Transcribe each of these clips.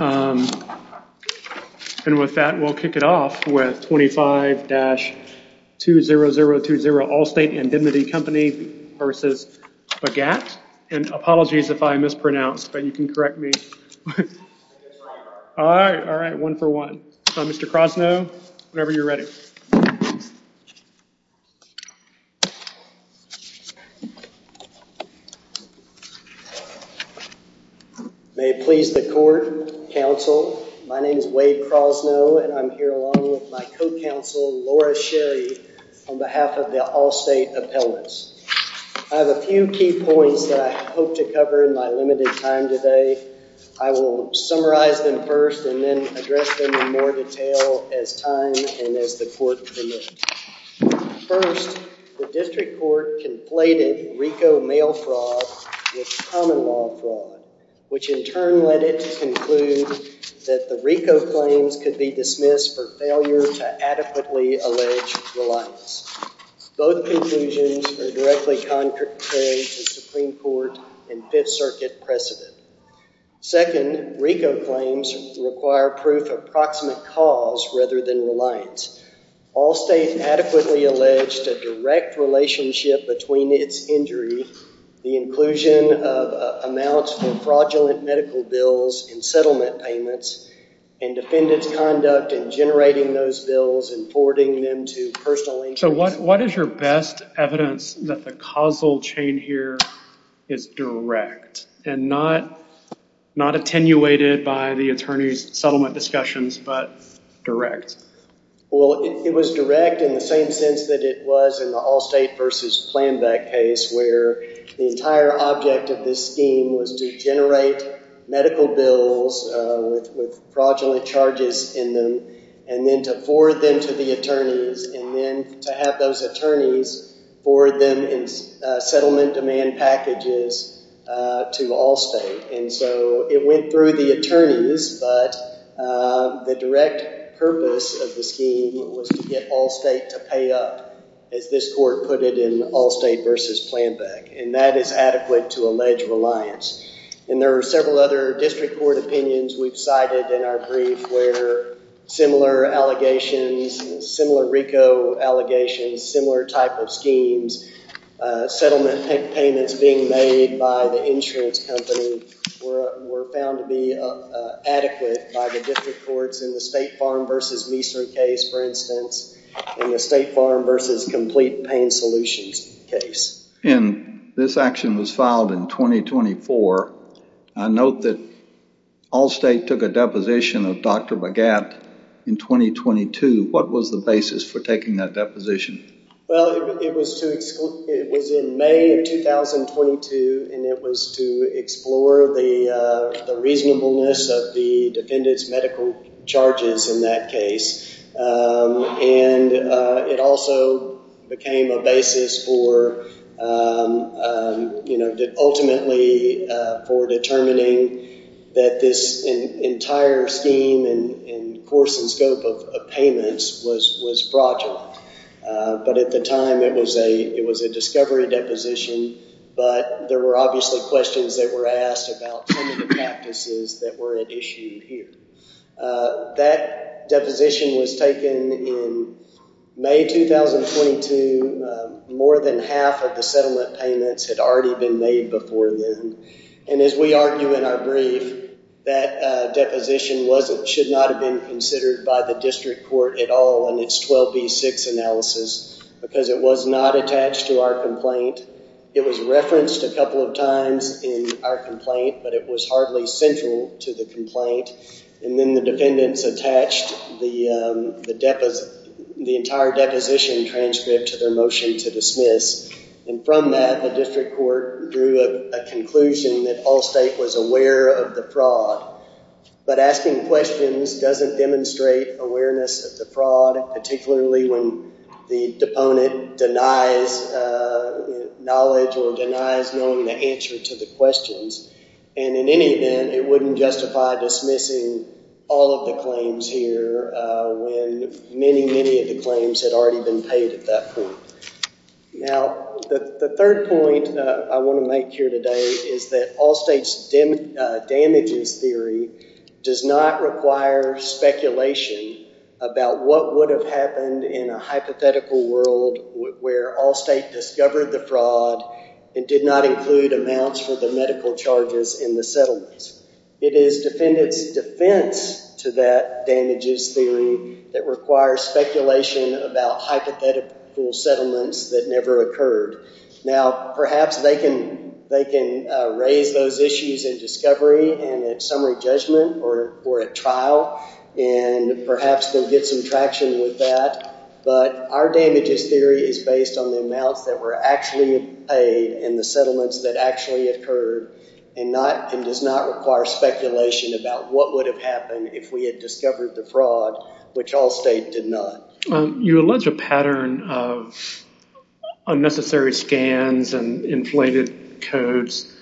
and with that we'll kick it off with 25-20020 Allstate Indemnity Company v. Bhagat and apologies if I mispronounced but you can correct me. Alright, one for one. Mr. Krosno, whenever you're ready. May it please the court, counsel, my name is Wade Krosno and I'm here along with my co-counsel Laura Sherry on behalf of the Allstate Appellants. I have a few key points that I hope to cover in my limited time today. I will summarize them first and then address them in more detail as time and as the court permits. First, the district court conflated RICO mail fraud with common law fraud which in turn led it to conclude that the RICO claims could be dismissed for failure to adequately allege reliance. Both conclusions are directly contrary to Supreme Court and Fifth Circuit precedent. Second, RICO claims require proof of proximate cause rather than reliance. Allstate adequately alleged a direct relationship between its injury, the inclusion of amounts for fraudulent medical bills and settlement payments, and defendant's conduct in generating those bills and forwarding them to personal interest. So what is your best evidence that the causal chain here is direct and not attenuated by the attorney's settlement discussions but direct? Well, it was direct in the same sense that it was in the Allstate versus Planbeck case where the entire object of this scheme was to generate medical bills with fraudulent charges in them and then to forward them to the attorneys and then to have those attorneys forward them in settlement demand packages to Allstate. And so it went through the attorneys but the direct purpose of the scheme was to get Allstate to pay up as this court put it in Allstate versus Planbeck and that is adequate to allege reliance. And there are several other district court opinions we've cited in our brief where similar allegations, similar RICO allegations, similar type of schemes, settlement payments being made by the insurance company were found to be adequate by the district courts in the State Farm versus Meeser case, for instance, in the State Farm versus Complete Pain Solutions case. And this action was filed in 2024. I note that Allstate took a deposition of Dr. Bagat in 2022. What was the basis for taking that deposition? Well, it was in May of 2022 and it was to explore the reasonableness of the defendant's medical charges in that case. And it also became a basis for, you know, ultimately for determining that this entire scheme and course and scope of payments was fraudulent. But at the time it was a discovery deposition but there were obviously questions that were asked about some of the practices that were issued here. That deposition was taken in May 2022. More than half of the settlement payments had already been made before then. And as we argue in our brief, that deposition should not have been considered by the district court at all in its 12B6 analysis because it was not attached to our complaint. It was referenced a couple of times in our complaint but it was hardly central to the complaint. And then the defendants attached the entire deposition transcript to their motion to dismiss. And from that the district court drew a conclusion that Allstate was aware of the fraud. But asking questions doesn't demonstrate awareness of the fraud, particularly when the deponent denies knowledge or denies knowing the answer to the questions. And in any event, it wouldn't justify dismissing all of the claims here when many, many of the claims had already been paid at that point. Now, the third point I want to make here today is that Allstate's damages theory does not require speculation about what would have happened in a hypothetical world where Allstate discovered the fraud and did not include amounts for the medical charges in the settlements. It is defendants' defense to that damages theory that requires speculation about hypothetical settlements that never occurred. Now, perhaps they can raise those issues in discovery and at summary judgment or at trial and perhaps they'll get some traction with that. But our damages theory is based on the amounts that were actually paid in the settlements that actually occurred and does not require speculation about what would have happened if we had discovered the fraud, which Allstate did not. You allege a pattern of unnecessary scans and inflated codes.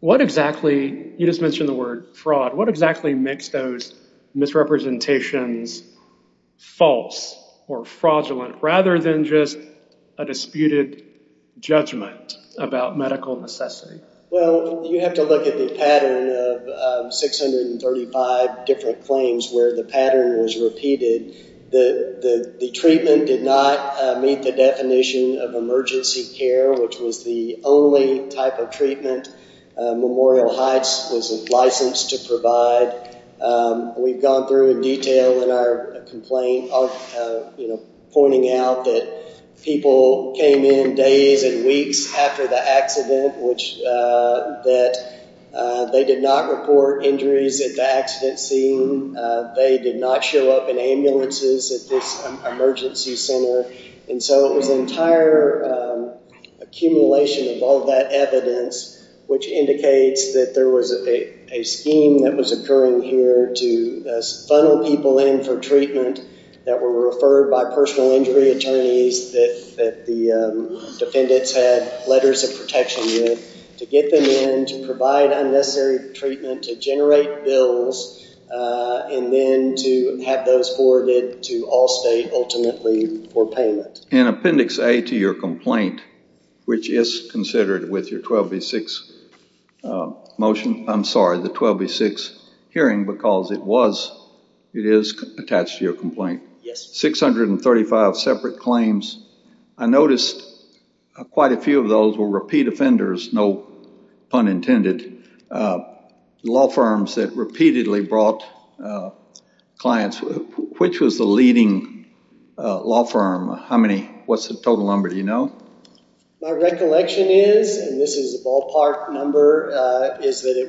What exactly, you just mentioned the word fraud, what exactly makes those misrepresentations false or fraudulent rather than just a disputed judgment about medical necessity? Well, you have to look at the pattern of 635 different claims where the pattern was repeated. The treatment did not meet the definition of emergency care, which was the only type of treatment Memorial Heights was licensed to provide. We've gone through in detail in our complaint, you know, pointing out that people came in days and weeks after the accident, which that they did not report injuries at the accident scene. They did not show up in ambulances at this emergency center. And so it was an entire accumulation of all that evidence, which indicates that there was a scheme that was occurring here to funnel people in for treatment that were referred by personal injury attorneys that the defendants had letters of protection with, to get them in, to provide unnecessary treatment, to generate bills, and then to have those forwarded to Allstate ultimately for payment. In Appendix A to your complaint, which is considered with your 12B6 motion, I'm sorry, the 12B6 hearing, because it is attached to your complaint. Yes. 635 separate claims. I noticed quite a few of those were repeat offenders, no pun intended, law firms that repeatedly brought clients. Which was the leading law firm? How many? What's the total number? Do you remember? It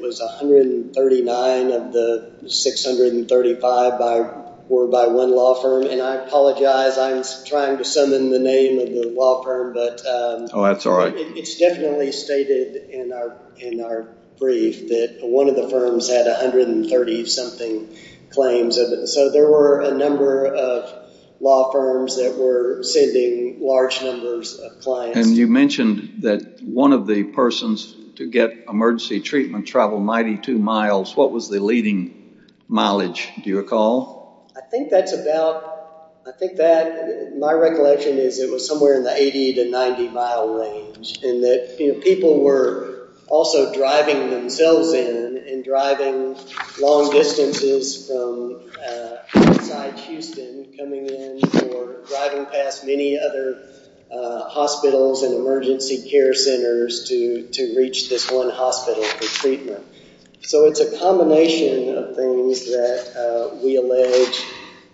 was 139 of the 635 were by one law firm. And I apologize, I'm trying to summon the name of the law firm. Oh, that's all right. It's definitely stated in our brief that one of the firms had 130-something claims. So there were a number of law firms that were sending large numbers of clients. And you mentioned that one of the persons to get emergency treatment traveled 92 miles. What was the leading mileage, do you recall? I think that's about, I think that, my recollection is it was somewhere in the 80 to 90 mile range. And that people were also driving themselves in and driving long distances from outside Houston coming in or driving past many other hospitals and emergency care centers to reach this one hospital for treatment. So it's a combination of things that we allege,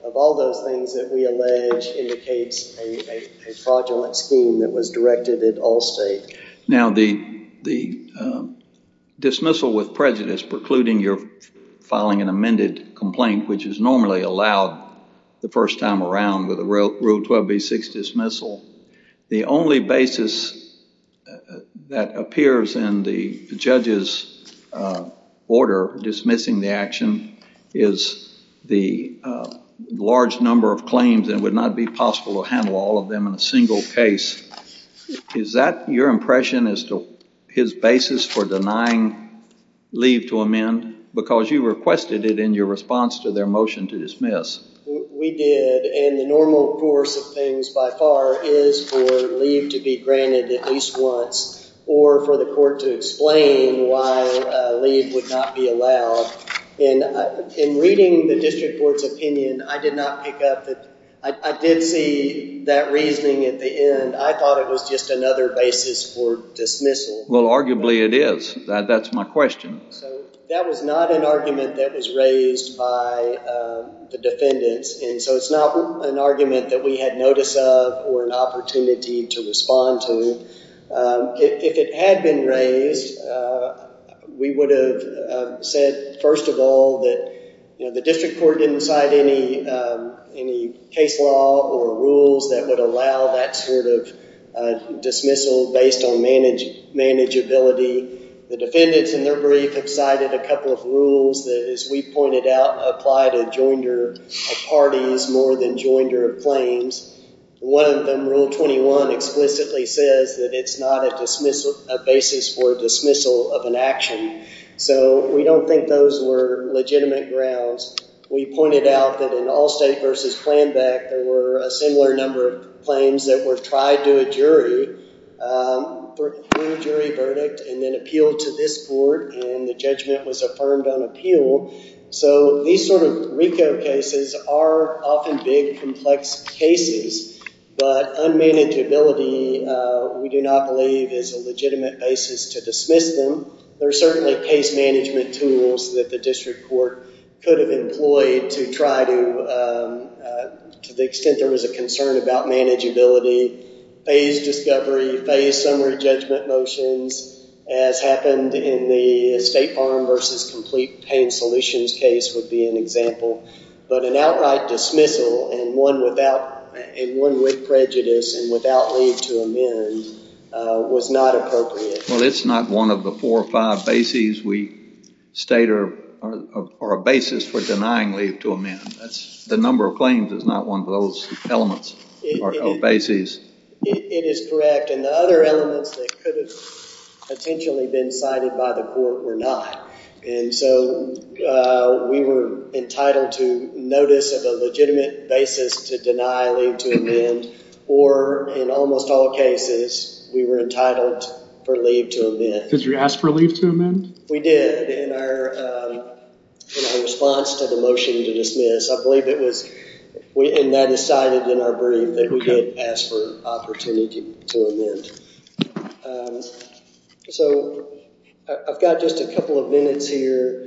of all those things that we allege indicates a fraudulent scheme that was directed at Allstate. Now the dismissal with prejudice precluding your filing an amended complaint, which is generally allowed the first time around with a Rule 12b-6 dismissal, the only basis that appears in the judge's order dismissing the action is the large number of claims and would not be possible to handle all of them in a single case. Is that your impression as to his basis for denying leave to amend? Because you requested it in your response to their motion to dismiss. We did and the normal course of things by far is for leave to be granted at least once or for the court to explain why leave would not be allowed. In reading the district court's opinion, I did not pick up that. I did see that reasoning at the end. I thought it was just another basis for dismissal. Well arguably it is. That's my question. So that was not an argument that was raised by the defendants and so it's not an argument that we had notice of or an opportunity to respond to. If it had been raised, we would have said first of all that the district court didn't cite any case law or rules that would allow that sort of dismissal based on manageability. The defendants in their brief have cited a couple of rules that as we pointed out apply to joinder of parties more than joinder of claims. One of them, Rule 21, explicitly says that it's not a dismissal, a basis for dismissal of an action. So we don't think those were legitimate grounds. We pointed out that in Allstate v. Flanbeck, there were a similar number of claims that were applied to a jury for a jury verdict and then appealed to this court and the judgment was affirmed on appeal. So these sort of RICO cases are often big, complex cases, but unmanageability we do not believe is a legitimate basis to dismiss them. There are certainly case management tools that the district court could have employed to try to, to the extent there was a concern about manageability, phased discovery, phased summary judgment motions as happened in the State Farm v. Complete Paying Solutions case would be an example, but an outright dismissal and one with prejudice and without leave to amend was not appropriate. Well, it's not one of the four or five bases we state are a basis for denying leave to amend. That's the number of claims is not one of those elements or bases. It is correct and the other elements that could have potentially been cited by the court were not. And so we were entitled to notice of a legitimate basis to deny leave to amend or in almost all cases, we were entitled for leave to amend. Did you ask for leave to amend? We did in our response to the motion to dismiss. I believe it was, and that is cited in our brief that we did ask for opportunity to amend. So I've got just a couple of minutes here.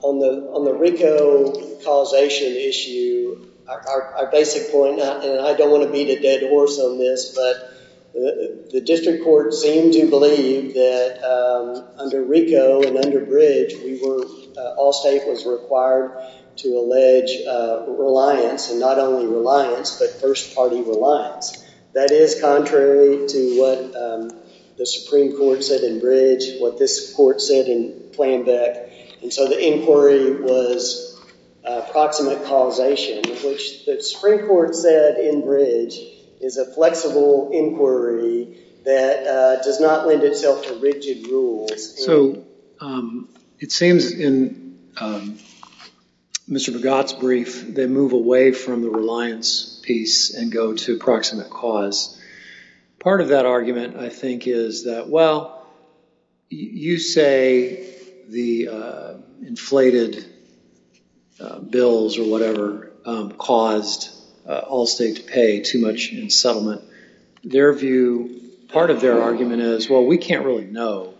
On the RICO causation issue, our basic point and I don't want to beat a dead horse on this, but the district court seemed to believe that under RICO and under Bridge, we were, all state was required to allege reliance and not only reliance, but first party reliance. That is contrary to what the Supreme Court said in Bridge, what this court said in Flanbeck. And so the inquiry was proximate causation, which the Supreme Court said in Bridge is a flexible inquiry that does not lend itself to rigid rules. So it seems in Mr. Bogat's brief, they move away from the reliance piece and go to proximate cause. Part of that argument, I think, is that, well, you say the inflated bills or whatever caused all state to pay too much in settlement. Their view, part of their argument is, well, we can't really know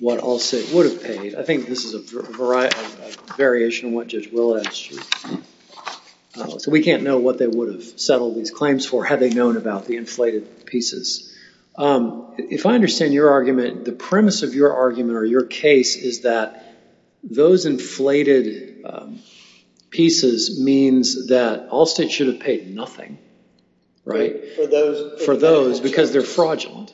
what all state would have paid. I think this is a variation of what Judge Willard asked you. So we can't know what they would have settled these claims for had they known about the inflated pieces. If I understand your argument, the premise of your argument or your case is that those inflated pieces means that all state should have paid nothing, right? For those, because they're fraudulent,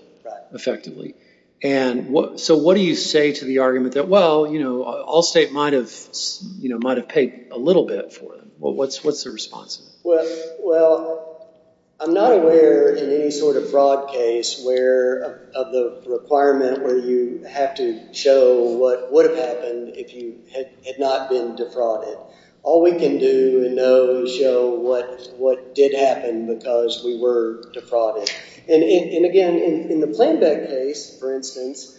effectively. And so what do you say to the argument that, well, all state might have paid a little bit for them? What's the response? Well, I'm not aware in any sort of fraud case where of the requirement where you have to show what would have happened if you had not been defrauded. All we can do and know is show what did happen because we were defrauded. And again, in the Plainbeck case, for instance,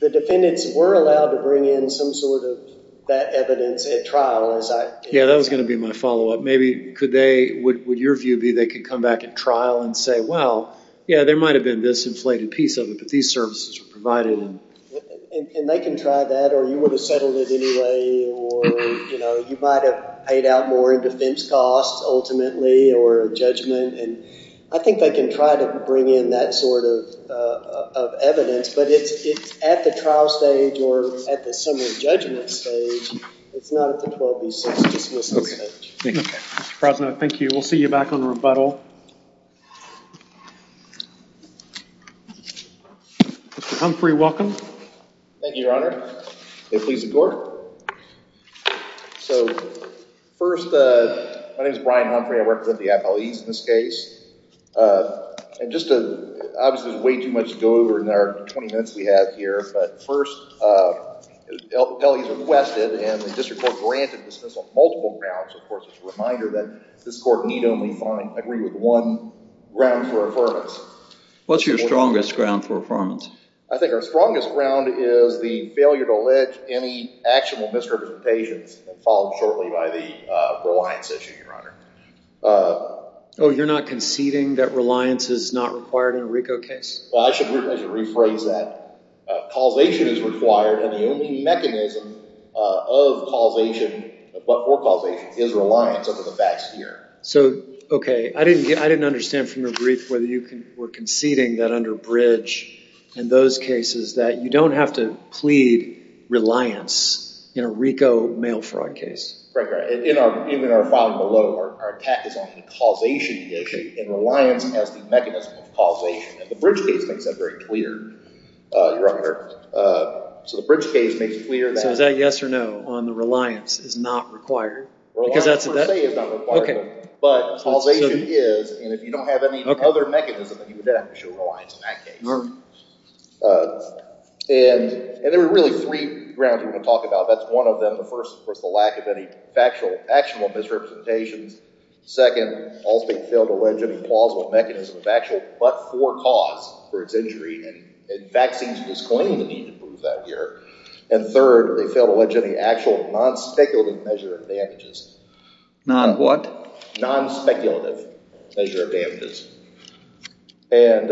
the defendants were allowed to bring in some sort of that evidence at trial. Yeah, that was going to be my follow up. Maybe could they, would your view be they could come back at trial and say, well, yeah, there might have been this inflated piece of it, but these services were provided. And they can try that or you would have settled it anyway. Or, you know, you might have paid out more in defense costs ultimately or judgment. And I think they can try to bring in that sort of evidence. But it's at the trial stage or at the summary judgment stage. It's not at the 12 v. 6 dismissal stage. Thank you, Mr. President. Thank you. We'll see you back on rebuttal. Mr. Humphrey, welcome. Thank you, Your Honor. May it please the Court. So, first, my name is Brian Humphrey. I represent the appellees in this case. And just to, obviously, there's way too much to go over in our 20 minutes we have here. But first, the appellees requested and the district court granted dismissal of multiple grounds. Of course, it's a reminder that this court need only find, agree with one ground for affirmance. What's your strongest ground for affirmance? I think our strongest ground is the failure to allege any actual misrepresentations, followed shortly by the reliance issue, Your Honor. Oh, you're not conceding that reliance is not required in a RICO case? Well, I should rephrase that. Causation is required. And the only mechanism of causation, but for causation, is reliance under the facts here. So, okay. I didn't get, I didn't understand from your brief whether you were conceding that under bridge and those cases that you don't have to plead reliance in a RICO mail fraud case. Right, right. Even in our filing below, our attack is on the causation issue and reliance has the mechanism of causation. And the bridge case makes that very clear, Your Honor. So, the bridge case makes clear that... So, is that yes or no on the reliance is not required? Reliance, per se, is not required. Okay. But causation is, and if you don't have any other mechanism, then you would have to show reliance in that case. Your Honor. And there are really three grounds we're going to talk about. That's one of them. The first was the lack of any factual, actual misrepresentations. Second, also being failed to allege any plausible mechanism of actual but for cause for its injury, and facts seem to disclaim the need to prove that here. And third, they failed to allege any actual non-speculative measure of damages. Non-what? Non-speculative measure of damages. And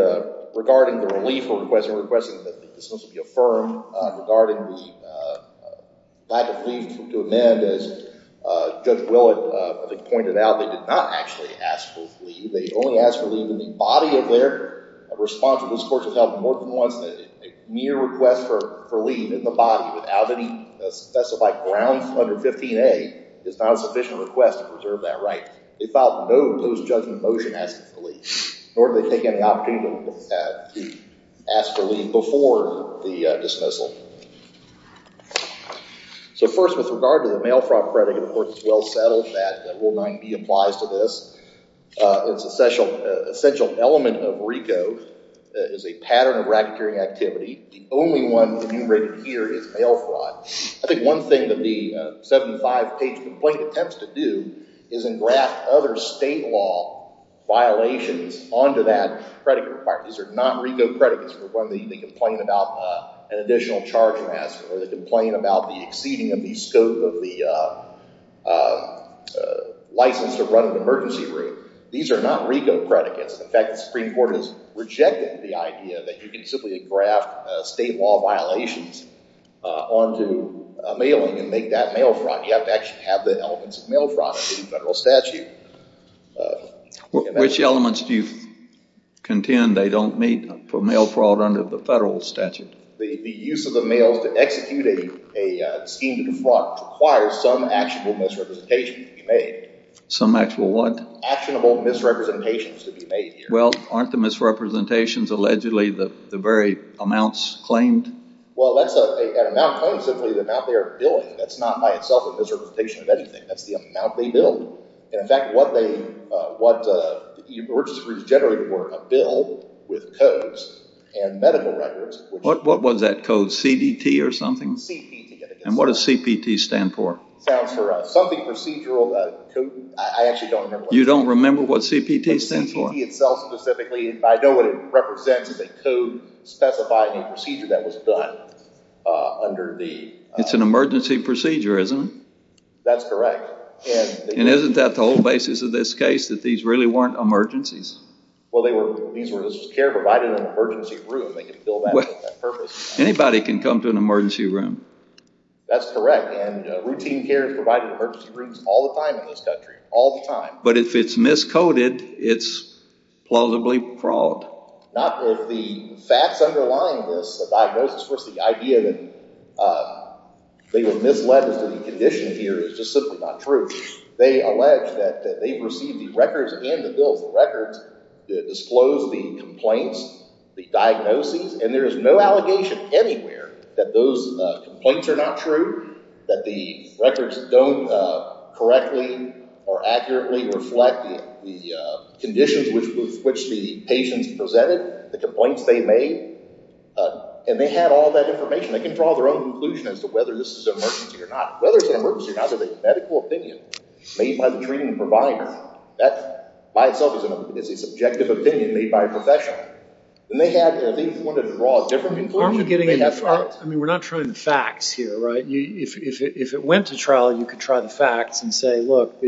regarding the relief request, requesting that the dismissal be affirmed, regarding the lack of leave to amend, as Judge Willett pointed out, they did not actually ask for leave. They only asked for leave in the body of their responsibles. Most courts have held more than once that a mere request for leave in the body without any specified grounds under 15A is not a sufficient request to preserve that right. They filed no post-judgment motion asking for leave, nor did they take any opportunity to ask for leave before the dismissal. So first, with regard to the mail fraud credit, of course, it's well settled that Rule 9b applies to this. Its essential element of RICO is a pattern of racketeering activity. The only one enumerated here is mail fraud. I think one thing that the 75-page complaint attempts to do is engraft other state law violations onto that credit requirement. These are not RICO credits for when they complain about an additional charge mask, or they complain about the exceeding of the scope of the license to run an emergency room. These are not RICO credits. In fact, the Supreme Court has rejected the idea that you can simply engraft state law violations onto mailing and make that mail fraud. You have to actually have the elements of mail fraud under the federal statute. Which elements do you contend they don't meet for mail fraud under the federal statute? The use of the mail to execute a scheme to defraud requires some actual misrepresentation to be made. Some actual what? Actionable misrepresentations to be made here. Well, aren't the misrepresentations allegedly the very amounts claimed? Well, an amount claimed is simply the amount they are billing. That's not by itself a misrepresentation of anything. That's the amount they bill. In fact, what the emergency rooms generally were, a bill with codes and medical records. What was that code? CDT or something? CPT. And what does CPT stand for? Sounds for something procedural. I actually don't remember. You don't remember what CPT stands for? CPT itself specifically. I know what it represents. It's a code specifying a procedure that was done under the... It's an emergency procedure, isn't it? That's correct. And isn't that the whole basis of this case, that these really weren't emergencies? Well, these were care provided in an emergency room. They could fill that in for that purpose. Anybody can come to an emergency room. That's correct. And routine care is provided in emergency rooms all the time in this country. All the time. But if it's miscoded, it's plausibly fraud. Not if the facts underlying this, the diagnosis, the idea that they were misled as to the condition here is just simply not true. They allege that they received the records and the bills. The records disclose the complaints, the diagnoses. And there is no allegation anywhere that those complaints are not true. That the records don't correctly or accurately reflect the conditions with which the patients presented the complaints they made. And they had all that information. They can draw their own conclusion as to whether this is an emergency or not. Whether it's an emergency or not is a medical opinion made by the treating provider. That by itself is a subjective opinion made by a professional. And they wanted to draw a different conclusion. I mean, we're not trying facts here, right? If it went to trial, you could try the facts and say, look,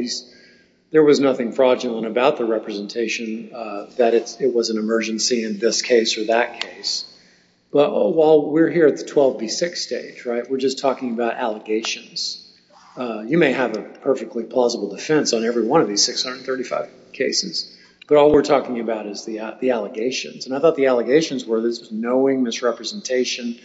there was nothing fraudulent about the representation that it was an emergency in this case or that case. But while we're here at the 12B6 stage, we're just talking about allegations. You may have a perfectly plausible defense on every one of these 635 cases. But all we're talking about is the allegations. And I thought the allegations were this knowing misrepresentation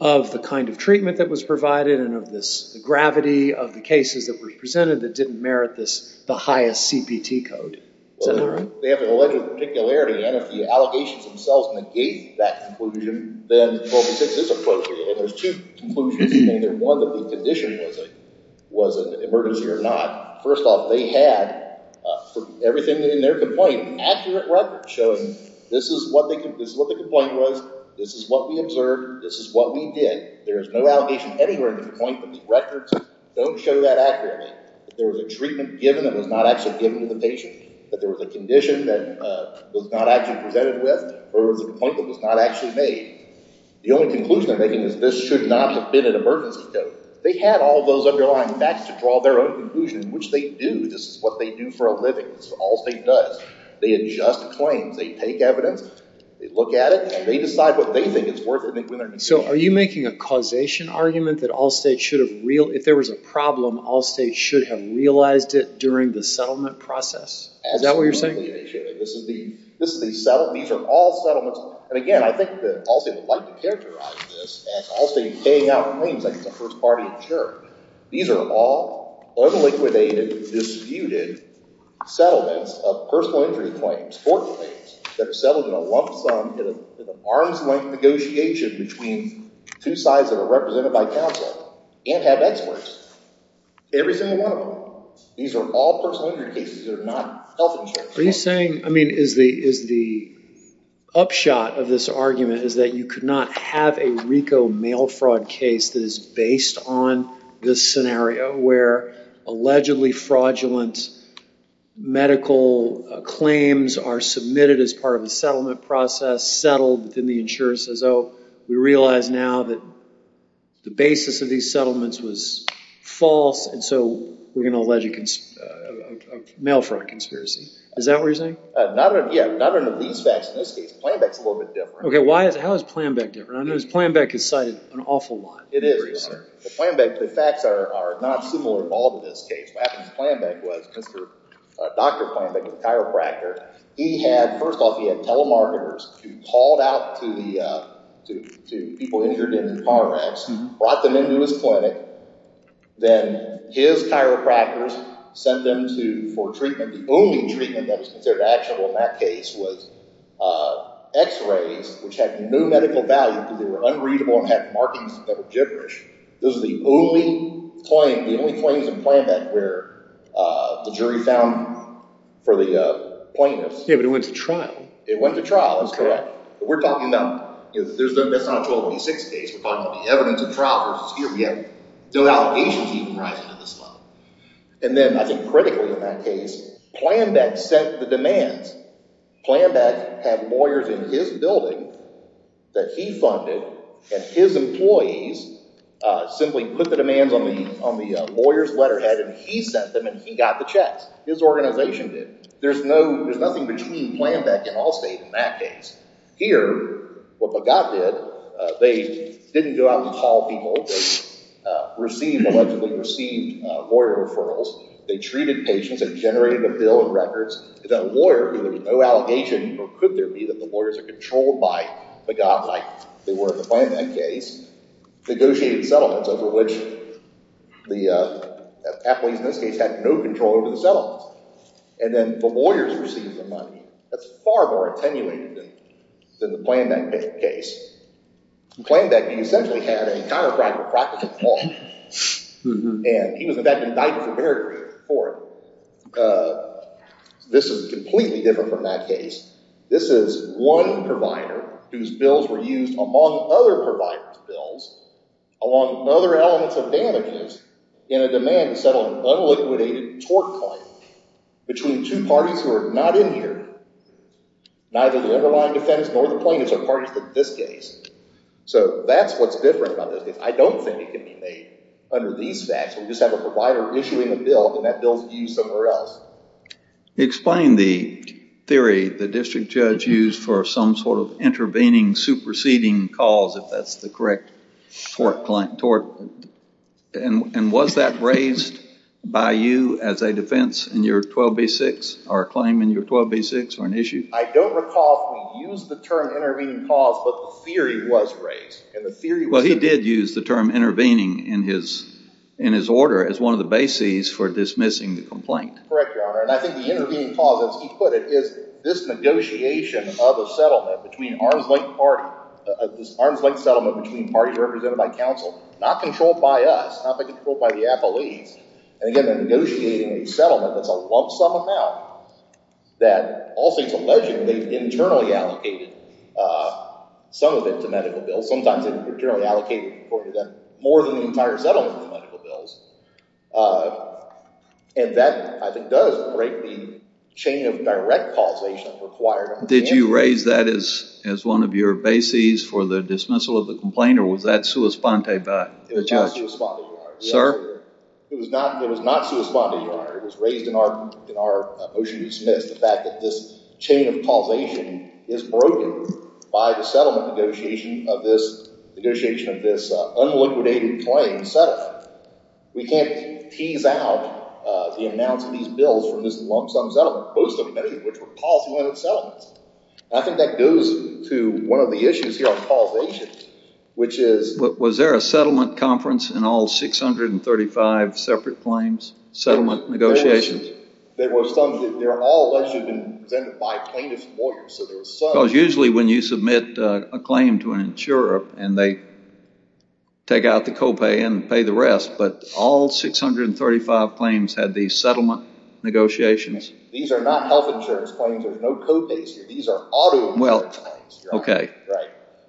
of the kind of treatment that was provided and of this gravity of the cases that were presented that didn't merit the highest CPT code. Well, they have an alleged particularity. And if the allegations themselves negate that conclusion, then 12B6 is appropriate. And there's two conclusions in there. One, that the condition was an emergency or not. First off, they had, for everything in their complaint, accurate records showing this is what the complaint was. This is what we observed. This is what we did. There is no allegation anywhere in the complaint that these records don't show that accurately. That there was a treatment given that was not actually given to the patient. That there was a condition that was not actually presented with. Or there was a complaint that was not actually made. The only conclusion they're making is this should not have been an emergency code. They had all those underlying facts to draw their own conclusion. Which they do. This is what they do for a living. This is what Allstate does. They adjust claims. They take evidence. They look at it. And they decide what they think is worth it. So are you making a causation argument that Allstate should have, if there was a problem, Allstate should have realized it during the settlement process? Is that what you're saying? This is the settlement. These are all settlements. And again, I think that Allstate would like to characterize this as Allstate paying out claims. Like it's a first party insurer. These are all unliquidated, disputed settlements of personal injury claims. Court claims that are settled in a lump sum in an arm's length negotiation between two sides that are represented by counsel. And have experts. Every single one of them. These are all personal injury cases. They're not health insurance cases. Are you saying, I mean, is the upshot of this argument is that you could not have a RICO mail fraud case that is based on this scenario where allegedly fraudulent medical claims are submitted as part of a settlement process. Settled. Then the insurer says, oh, we realize now that the basis of these settlements was false. And so we're going to allege a mail fraud conspiracy. Is that what you're saying? Yeah. None of these facts in this case. Plan B is a little bit different. How is Plan B different? I notice Plan B is cited an awful lot. It is. Plan B, the facts are not similar at all to this case. What happened with Plan B was, Dr. Plan B was a chiropractor. He had, first off, he had telemarketers who called out to the people injured in the car wrecks. Brought them into his clinic. Then his chiropractors sent them for treatment. The only treatment that was considered actionable in that case was x-rays, which had no medical value because they were unreadable and had markings that were gibberish. Those are the only claims in Plan B where the jury found for the plaintiffs. Yeah, but it went to trial. It went to trial. That's correct. We're talking about, that's not a 1226 case. We're talking about the evidence of trial versus hearing. We have no allegations even rising to this level. And then, I think critically in that case, Plan B set the demands. Plan B had lawyers in his building that he funded. And his employees simply put the demands on the lawyer's letterhead and he sent them and he got the checks. His organization did. There's nothing between Plan B and Allstate in that case. Here, what Begat did, they didn't go out and call people. They received, allegedly received, lawyer referrals. They treated patients. They generated a bill of records. The lawyer, there was no allegation, or could there be, that the lawyers are controlled by Begat, like they were in the Plan B case. Negotiated settlements over which the employees in this case had no control over the settlements. And then the lawyers received the money. That's far more attenuated than the Plan B case. Plan B essentially had a chiropractic practice law. And he was, in fact, indicted for perjury for it. This is completely different from that case. This is one provider whose bills were used among other providers' bills along with other elements of damages in a demand to settle an unliquidated tort claim between two parties who are not in here, neither the underlying defense nor the plaintiffs or parties in this case. So that's what's different about this case. I don't think it can be made under these facts. We just have a provider issuing a bill and that bill is used somewhere else. Explain the theory the district judge used for some sort of intervening, superseding cause, if that's the correct term. And was that raised by you as a defense in your 12b-6, or a claim in your 12b-6, or an issue? I don't recall if we used the term intervening cause, but the theory was raised. Well, he did use the term intervening in his order as one of the bases for dismissing the complaint. Correct, Your Honor. And I think the intervening cause, as he put it, is this negotiation of a settlement between an arms-length settlement between parties represented by counsel, not controlled by us, not controlled by the appellees. And again, negotiating a settlement that's a lump-sum amount that also it's alleged they've internally allocated some of it to medical bills. Sometimes they've internally allocated more than the entire settlement to medical bills. And that, I think, does break the chain of direct causation required on the hand. Did you raise that as one of your bases for the dismissal of the complaint, or was that sua sponte by the judge? It was not sua sponte, Your Honor. It was not sua sponte, Your Honor. It was raised in our motion to dismiss the fact that this chain of causation is broken by the settlement negotiation of this unliquidated claim set up. We can't tease out the amounts of these bills from this lump-sum settlement which were policy-oriented settlements. I think that goes to one of the issues here on causation, which is... Was there a settlement conference in all 635 separate claims? Settlement negotiations? There were some. They were all actually been presented by plaintiff's lawyers. Because usually when you submit a claim to an insurer and they take out the copay and pay the rest, but all 635 claims had these settlement negotiations? These are not health insurance claims. There's no copays here. These are auto insurance claims.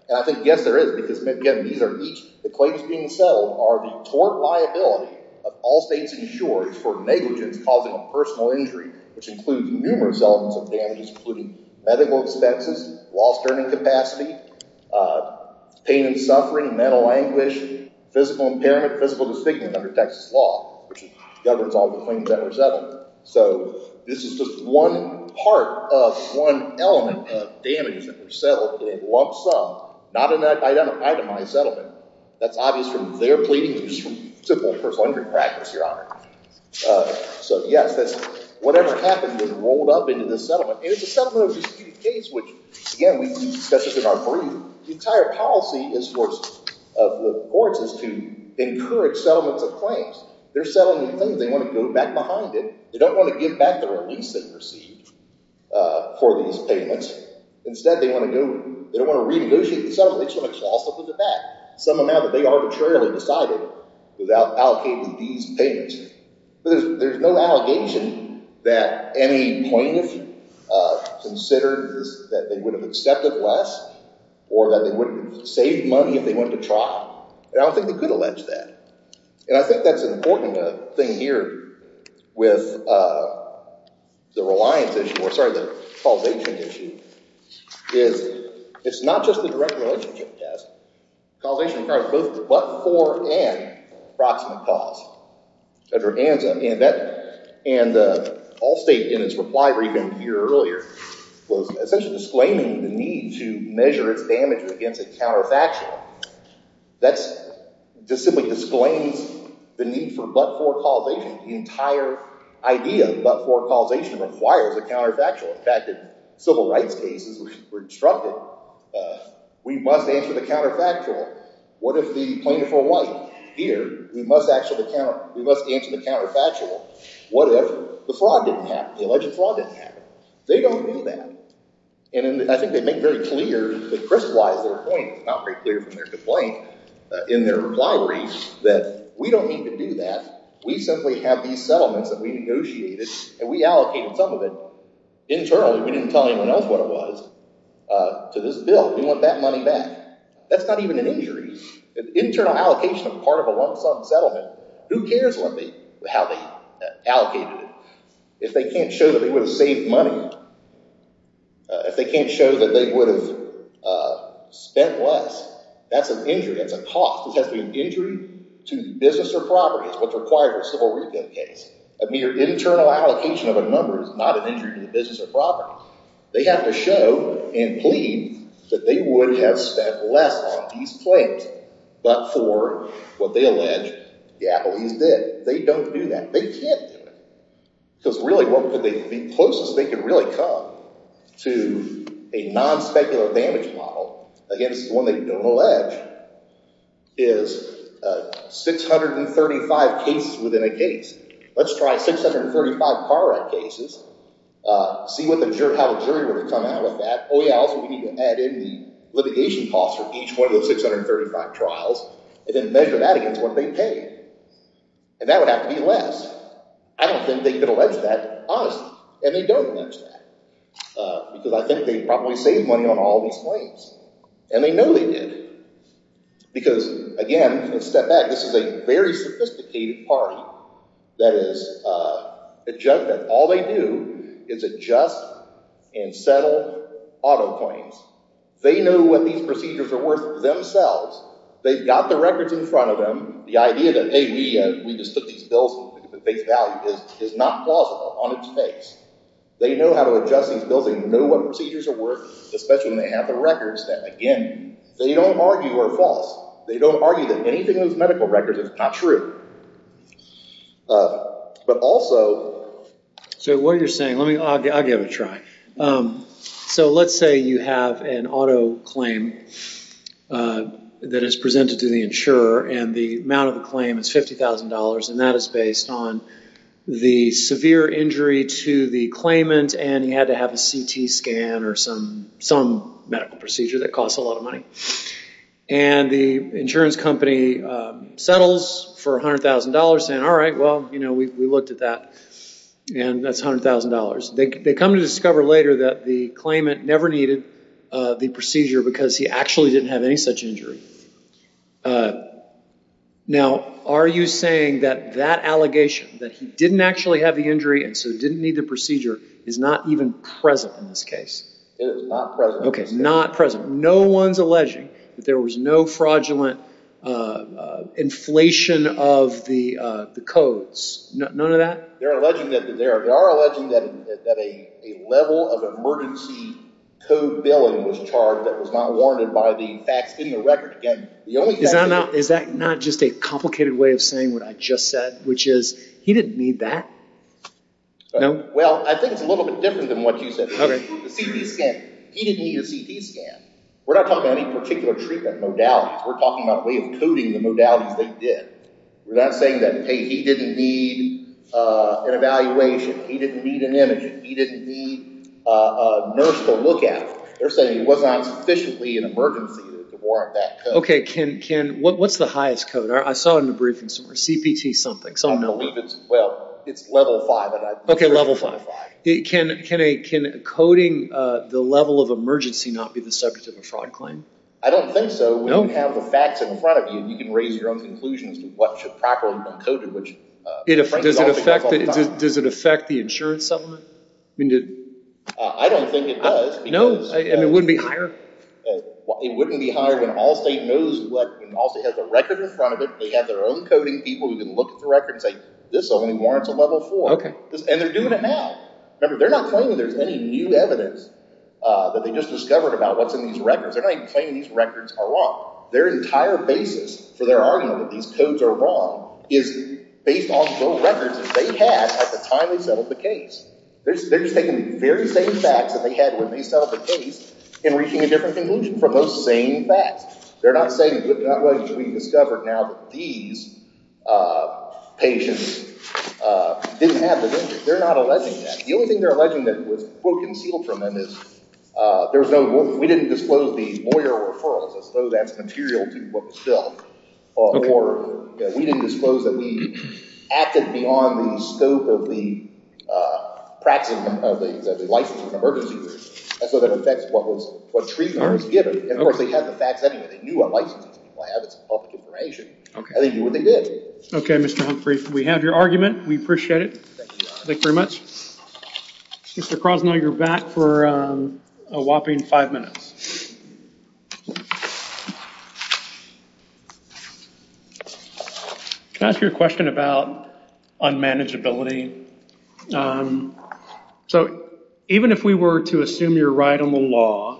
And I think, yes, there is. The claims being settled are the tort liability of all states' insurers for negligence causing a personal injury which includes numerous elements of damage including medical expenses, lost earning capacity, pain and suffering, mental anguish, physical impairment, physical disfigurement under Texas law which governs all the claims that were settled. So this is just one part of one element of damage that was settled in a lump-sum, not an itemized settlement. That's obvious from their pleading and simple personal injury practice, so yes, whatever happened was rolled up into this settlement and it's a settlement of a disputed case which, again, we discuss this in our brief. The entire policy of the courts is to encourage settlements of claims. They're settling a claim. They want to go back behind it. They don't want to give back the release they've received for these payments. Instead, they want to go they don't want to renegotiate the settlement. They just want to toss something back. Something that they arbitrarily decided without allocating these payments. There's no allegation that any plaintiff considered that they would have accepted less or that they would have saved money if they went to trial. I don't think they could allege that. And I think that's an important thing here with the reliance issue, or sorry, the causation issue, is it's not just a direct relationship test. Causation requires both but-for and approximate cause. And Allstate, in its reply briefing here earlier, was essentially disclaiming the need to measure its damage against a counterfactual. That just simply disclaims the need for but-for causation. The entire idea of but-for causation requires a counterfactual. In fact, in civil rights cases, we're instructed we must answer the counterfactual. What if the plaintiff or wife here, we must answer the counterfactual. What if the fraud didn't happen? The alleged fraud didn't happen? They don't do that. And I think they make very clear, they crystallize their point not very clear from their complaint in their reply brief that we don't need to do that. We simply have these settlements that we negotiated and we allocated some of it internally. We didn't tell anyone else what it was to this bill. We want that money back. That's not even an injury. An internal allocation of part of a lump sum settlement, who cares how they allocated it? If they can't show that they would have saved money, if they can't show that they would have spent less, that's an injury. That's a cost. It has to be an injury to business or property. That's what's required for a civil rebate case. A mere internal allocation of a number is not an injury to business or property. They have to show and plead that they would have spent less on these claims but for what they allege the appellees did. They don't do that. They can't do it. Because really, what could they be closest they could really come to a non-speculative damage model against one they don't allege is 635 cases within a case. Let's try 635 car wreck cases, see how the jury would have come out with that. Oh yeah, also we need to add in the litigation costs for each one of those 635 trials and then measure that against what they pay. That would have to be less. I don't think they could allege that, honestly. And they don't allege that. Because I think they probably saved money on all these claims. And they know they did. Because, again, let's step back. This is a very sophisticated party that all they do is adjust and settle auto claims. They know what these procedures are worth themselves. They've got the records in front of them. The idea that, hey, we just took these bills and put the base value is not plausible on its face. They know how to adjust these bills. They know what procedures are worth, especially when they have the records that, again, they don't argue are false. They don't argue that anything in those medical records is not true. But also... So what you're saying... I'll give it a try. So let's say you have an auto claim that is presented to the insurer and the amount of the claim is $50,000 and that is based on the severe injury to the claimant and he had to have a CT scan or some medical procedure that costs a lot of money. And the insurance company settles for $100,000 saying, alright, well, we looked at that and that's $100,000. They come to discover later that the claimant never needed the procedure because he actually didn't have any such injury. Now, are you saying that that allegation, that he didn't actually have the injury and so didn't need the procedure, is not even present in this case? It is not present. Okay, not present. No one's alleging that there was no fraudulent inflation of the codes. None of that? They are alleging that a level of emergency code billing was charged that was not warranted by the facts in the record. Is that not just a complicated way of saying what I just said, which is he didn't need that? Well, I think it's a little bit different than what you said. He didn't need a CT scan. We're not talking about any particular treatment, modalities. We're talking about a way of coding the modalities they did. We're not saying that, hey, he didn't need an evaluation, he didn't need an image, he didn't need a nurse to look at. They're saying it was not sufficiently an emergency to warrant that code. What's the highest code? I saw in the briefing somewhere, CPT something. I believe it's, well, it's level 5 and I'm sure it's level 5. Okay, level 5. Can coding the level of emergency not be the subject of a fraud claim? I don't think so. When you have the facts in front of you, you can raise your own conclusions to what should properly have been coded. Does it affect the insurance settlement? I don't think it does. And it wouldn't be higher? It wouldn't be higher when Allstate knows when Allstate has a record in front of it, they have their own coding people who can look at the record and say this only warrants a level 4. And they're doing it now. Remember, they're not claiming there's any new evidence that they just discovered about what's in these records. They're not even claiming these records are wrong. Their entire basis for their argument that these codes are wrong is based on the records that they had at the time they settled the case. They're just taking the very same facts that they had when they settled the case and reaching a different conclusion from those same facts. They're not saying, well, we discovered now that these patients didn't have the injury. They're not alleging that. The only thing they're alleging that was concealed from them is we didn't disclose the lawyer referrals as though that's material to what was done. Or we didn't disclose that we acted beyond the scope of the licensing emergency group. So that affects what treatment was given. Of course, they had the facts anyway. They knew what licenses people have. It's public information. I think they knew what they did. Okay, Mr. Humphrey. We have your argument. We appreciate it. Thank you very much. Mr. Krasnow, you're back for a whopping five minutes. Can I ask you a question about unmanageability? So, even if we were to assume you're right on the law,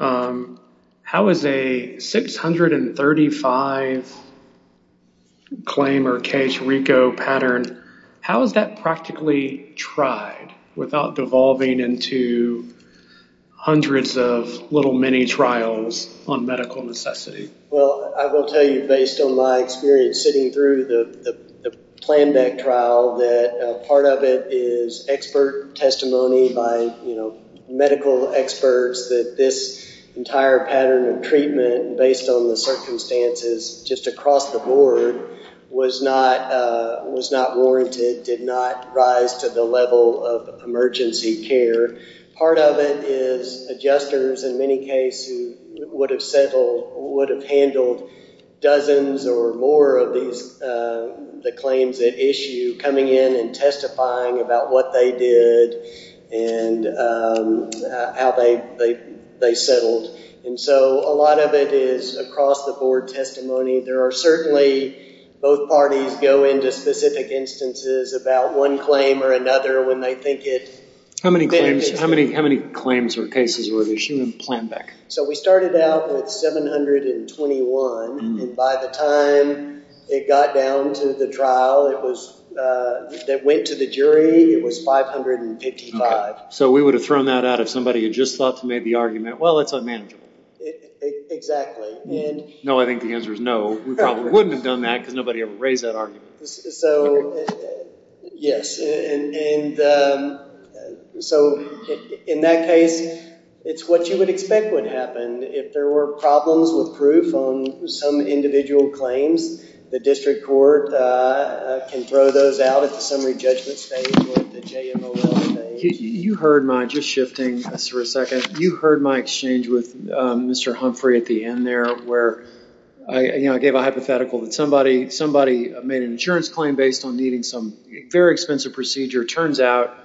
how is a 635 claim or case, practically tried without devolving into hundreds of little mini-trials on medical necessity? Well, I will tell you based on my experience sitting through the plan back trial that part of it is expert testimony by medical experts that this entire pattern of treatment based on the circumstances just across the board was not warranted, did not rise to the level of emergency care. Part of it is adjusters in many cases who would have settled, would have handled dozens or more of these claims at issue coming in and testifying about what they did and how they settled. And so, a lot of it is across the board testimony. There are certainly, both parties go into specific instances about one claim or another when they think it How many claims or cases were at issue in plan back? So, we started out with 721 and by the time it got down to the trial that went to the jury, it was 555. So, we would have thrown that out if somebody had just thought to make the argument, well, it's unmanageable. Exactly. No, I think the answer is no. We probably wouldn't have done that because nobody ever raised that argument. So, yes, and so, in that case, it's what you would expect would happen. If there were problems with proof on some individual claims, the district court can throw those out at the summary judgment stage or the JMOL stage. You heard my, just shifting for a second, you heard my exchange with Mr. Humphrey at the end there where I gave a hypothetical that somebody made an insurance claim based on needing some very expensive procedure. Turns out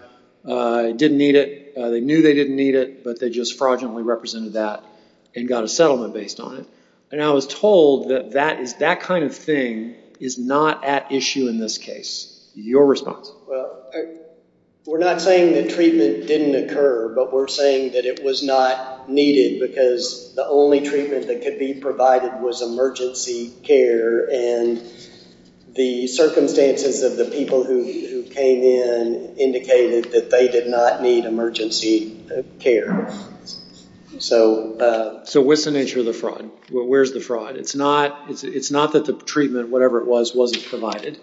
it didn't need it. They knew they didn't need it, but they just fraudulently represented that and got a settlement based on it. And I was told that that kind of thing is not at issue in this case. Your response. We're not saying that treatment didn't occur, but we're saying that it was not needed because the only treatment that could be provided was emergency care and the circumstances of the people who came in indicated that they did not need emergency care. So, what's the nature of the fraud? Where's the fraud? It's not that the treatment, whatever it was, wasn't provided.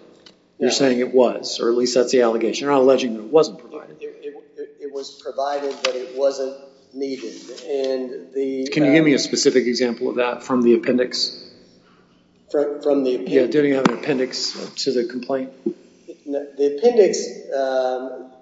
You're saying it was, or at least that's the allegation. You're not alleging that it wasn't provided. It was provided, but it wasn't needed. Can you give me a specific example of that from the appendix? From the appendix? Do we have an appendix to the complaint? The appendix,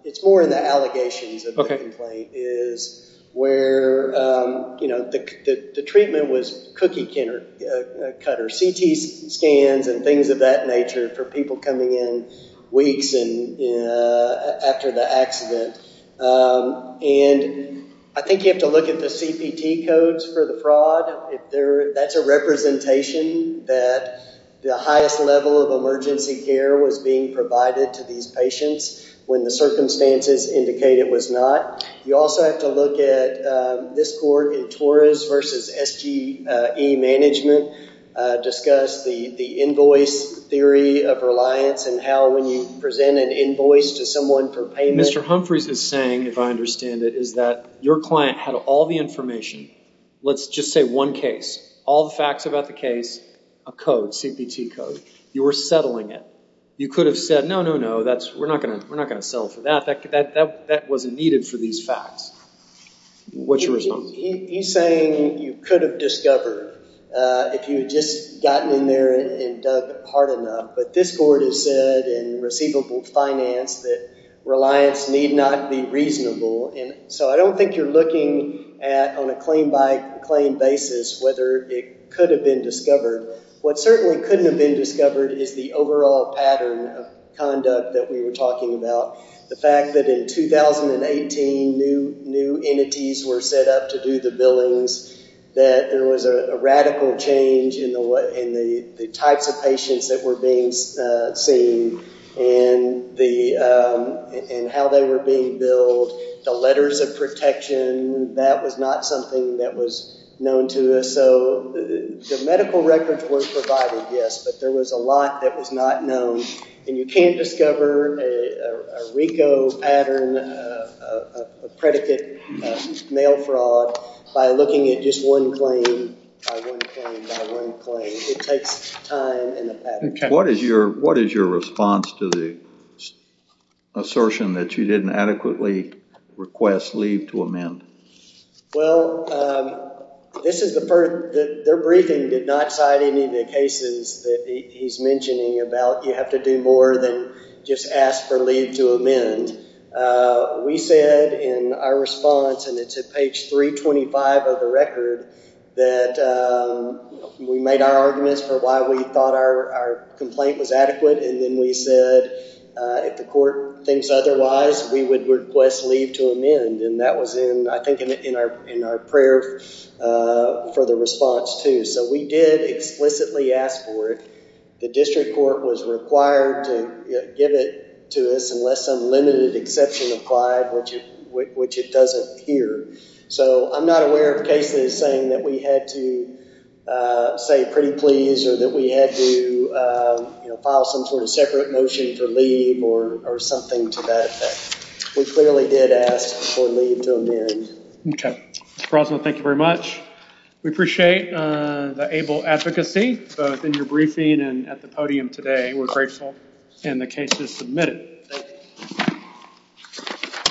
it's more in the allegations of the complaint, is where the treatment was cookie cutter CT scans and things of that nature for people coming in weeks after the accident. And I think you have to look at the CPT codes for the fraud. That's a representation that the highest level of emergency care was being provided to these patients when the circumstances indicated it was not. You also have to look at this court in Torres versus SGE management discuss the invoice theory of reliance and how when you present an invoice to someone for payment. Mr. Humphreys is saying, if I understand it, is that your client had all the information, let's just say one case, all the facts about the case, a code, CPT code. You were settling it. You could have said, no, no, no, we're not going to settle for that. That wasn't needed for these facts. What's your response? He's saying you could have discovered if you had just gotten in there and dug hard enough, but this court has said in receivable finance that reliance need not be reasonable. I don't think you're looking at on a claim by claim basis whether it could have been discovered. What certainly couldn't have been discovered is the overall pattern of conduct that we were talking about. The fact that in 2018 new entities were set up to do the billings, that there was a radical change in the types of patients that were being seen and how they were being billed, the letters of protection, that was not something that was known to us. The medical records were provided, yes, but there was a lot that was not known. You can't discover a RICO pattern, a predicate mail fraud by looking at just one claim by one claim by one claim. It takes time and a pattern. What is your response to the assertion that you didn't adequately request leave to amend? Well, this is the first, their briefing did not cite any of the cases that he's mentioning about you have to do more than just ask for leave to amend. We said in our response, and it's page 325 of the record that we made our arguments for why we thought our complaint was adequate and then we said if the court thinks otherwise, we would request leave to amend and that was in, I think, in our prayer for the response too. So we did explicitly ask for it. The district court was required to give it to us unless some limited exception applied, which it doesn't here. So I'm not aware of cases saying that we had to say pretty please or that we had to, you know, file some sort of separate motion for leave or something to that effect. We clearly did ask for leave to amend. Okay. Thank you very much. We appreciate the able advocacy both in your briefing and at the podium today. We're grateful. And the case is submitted.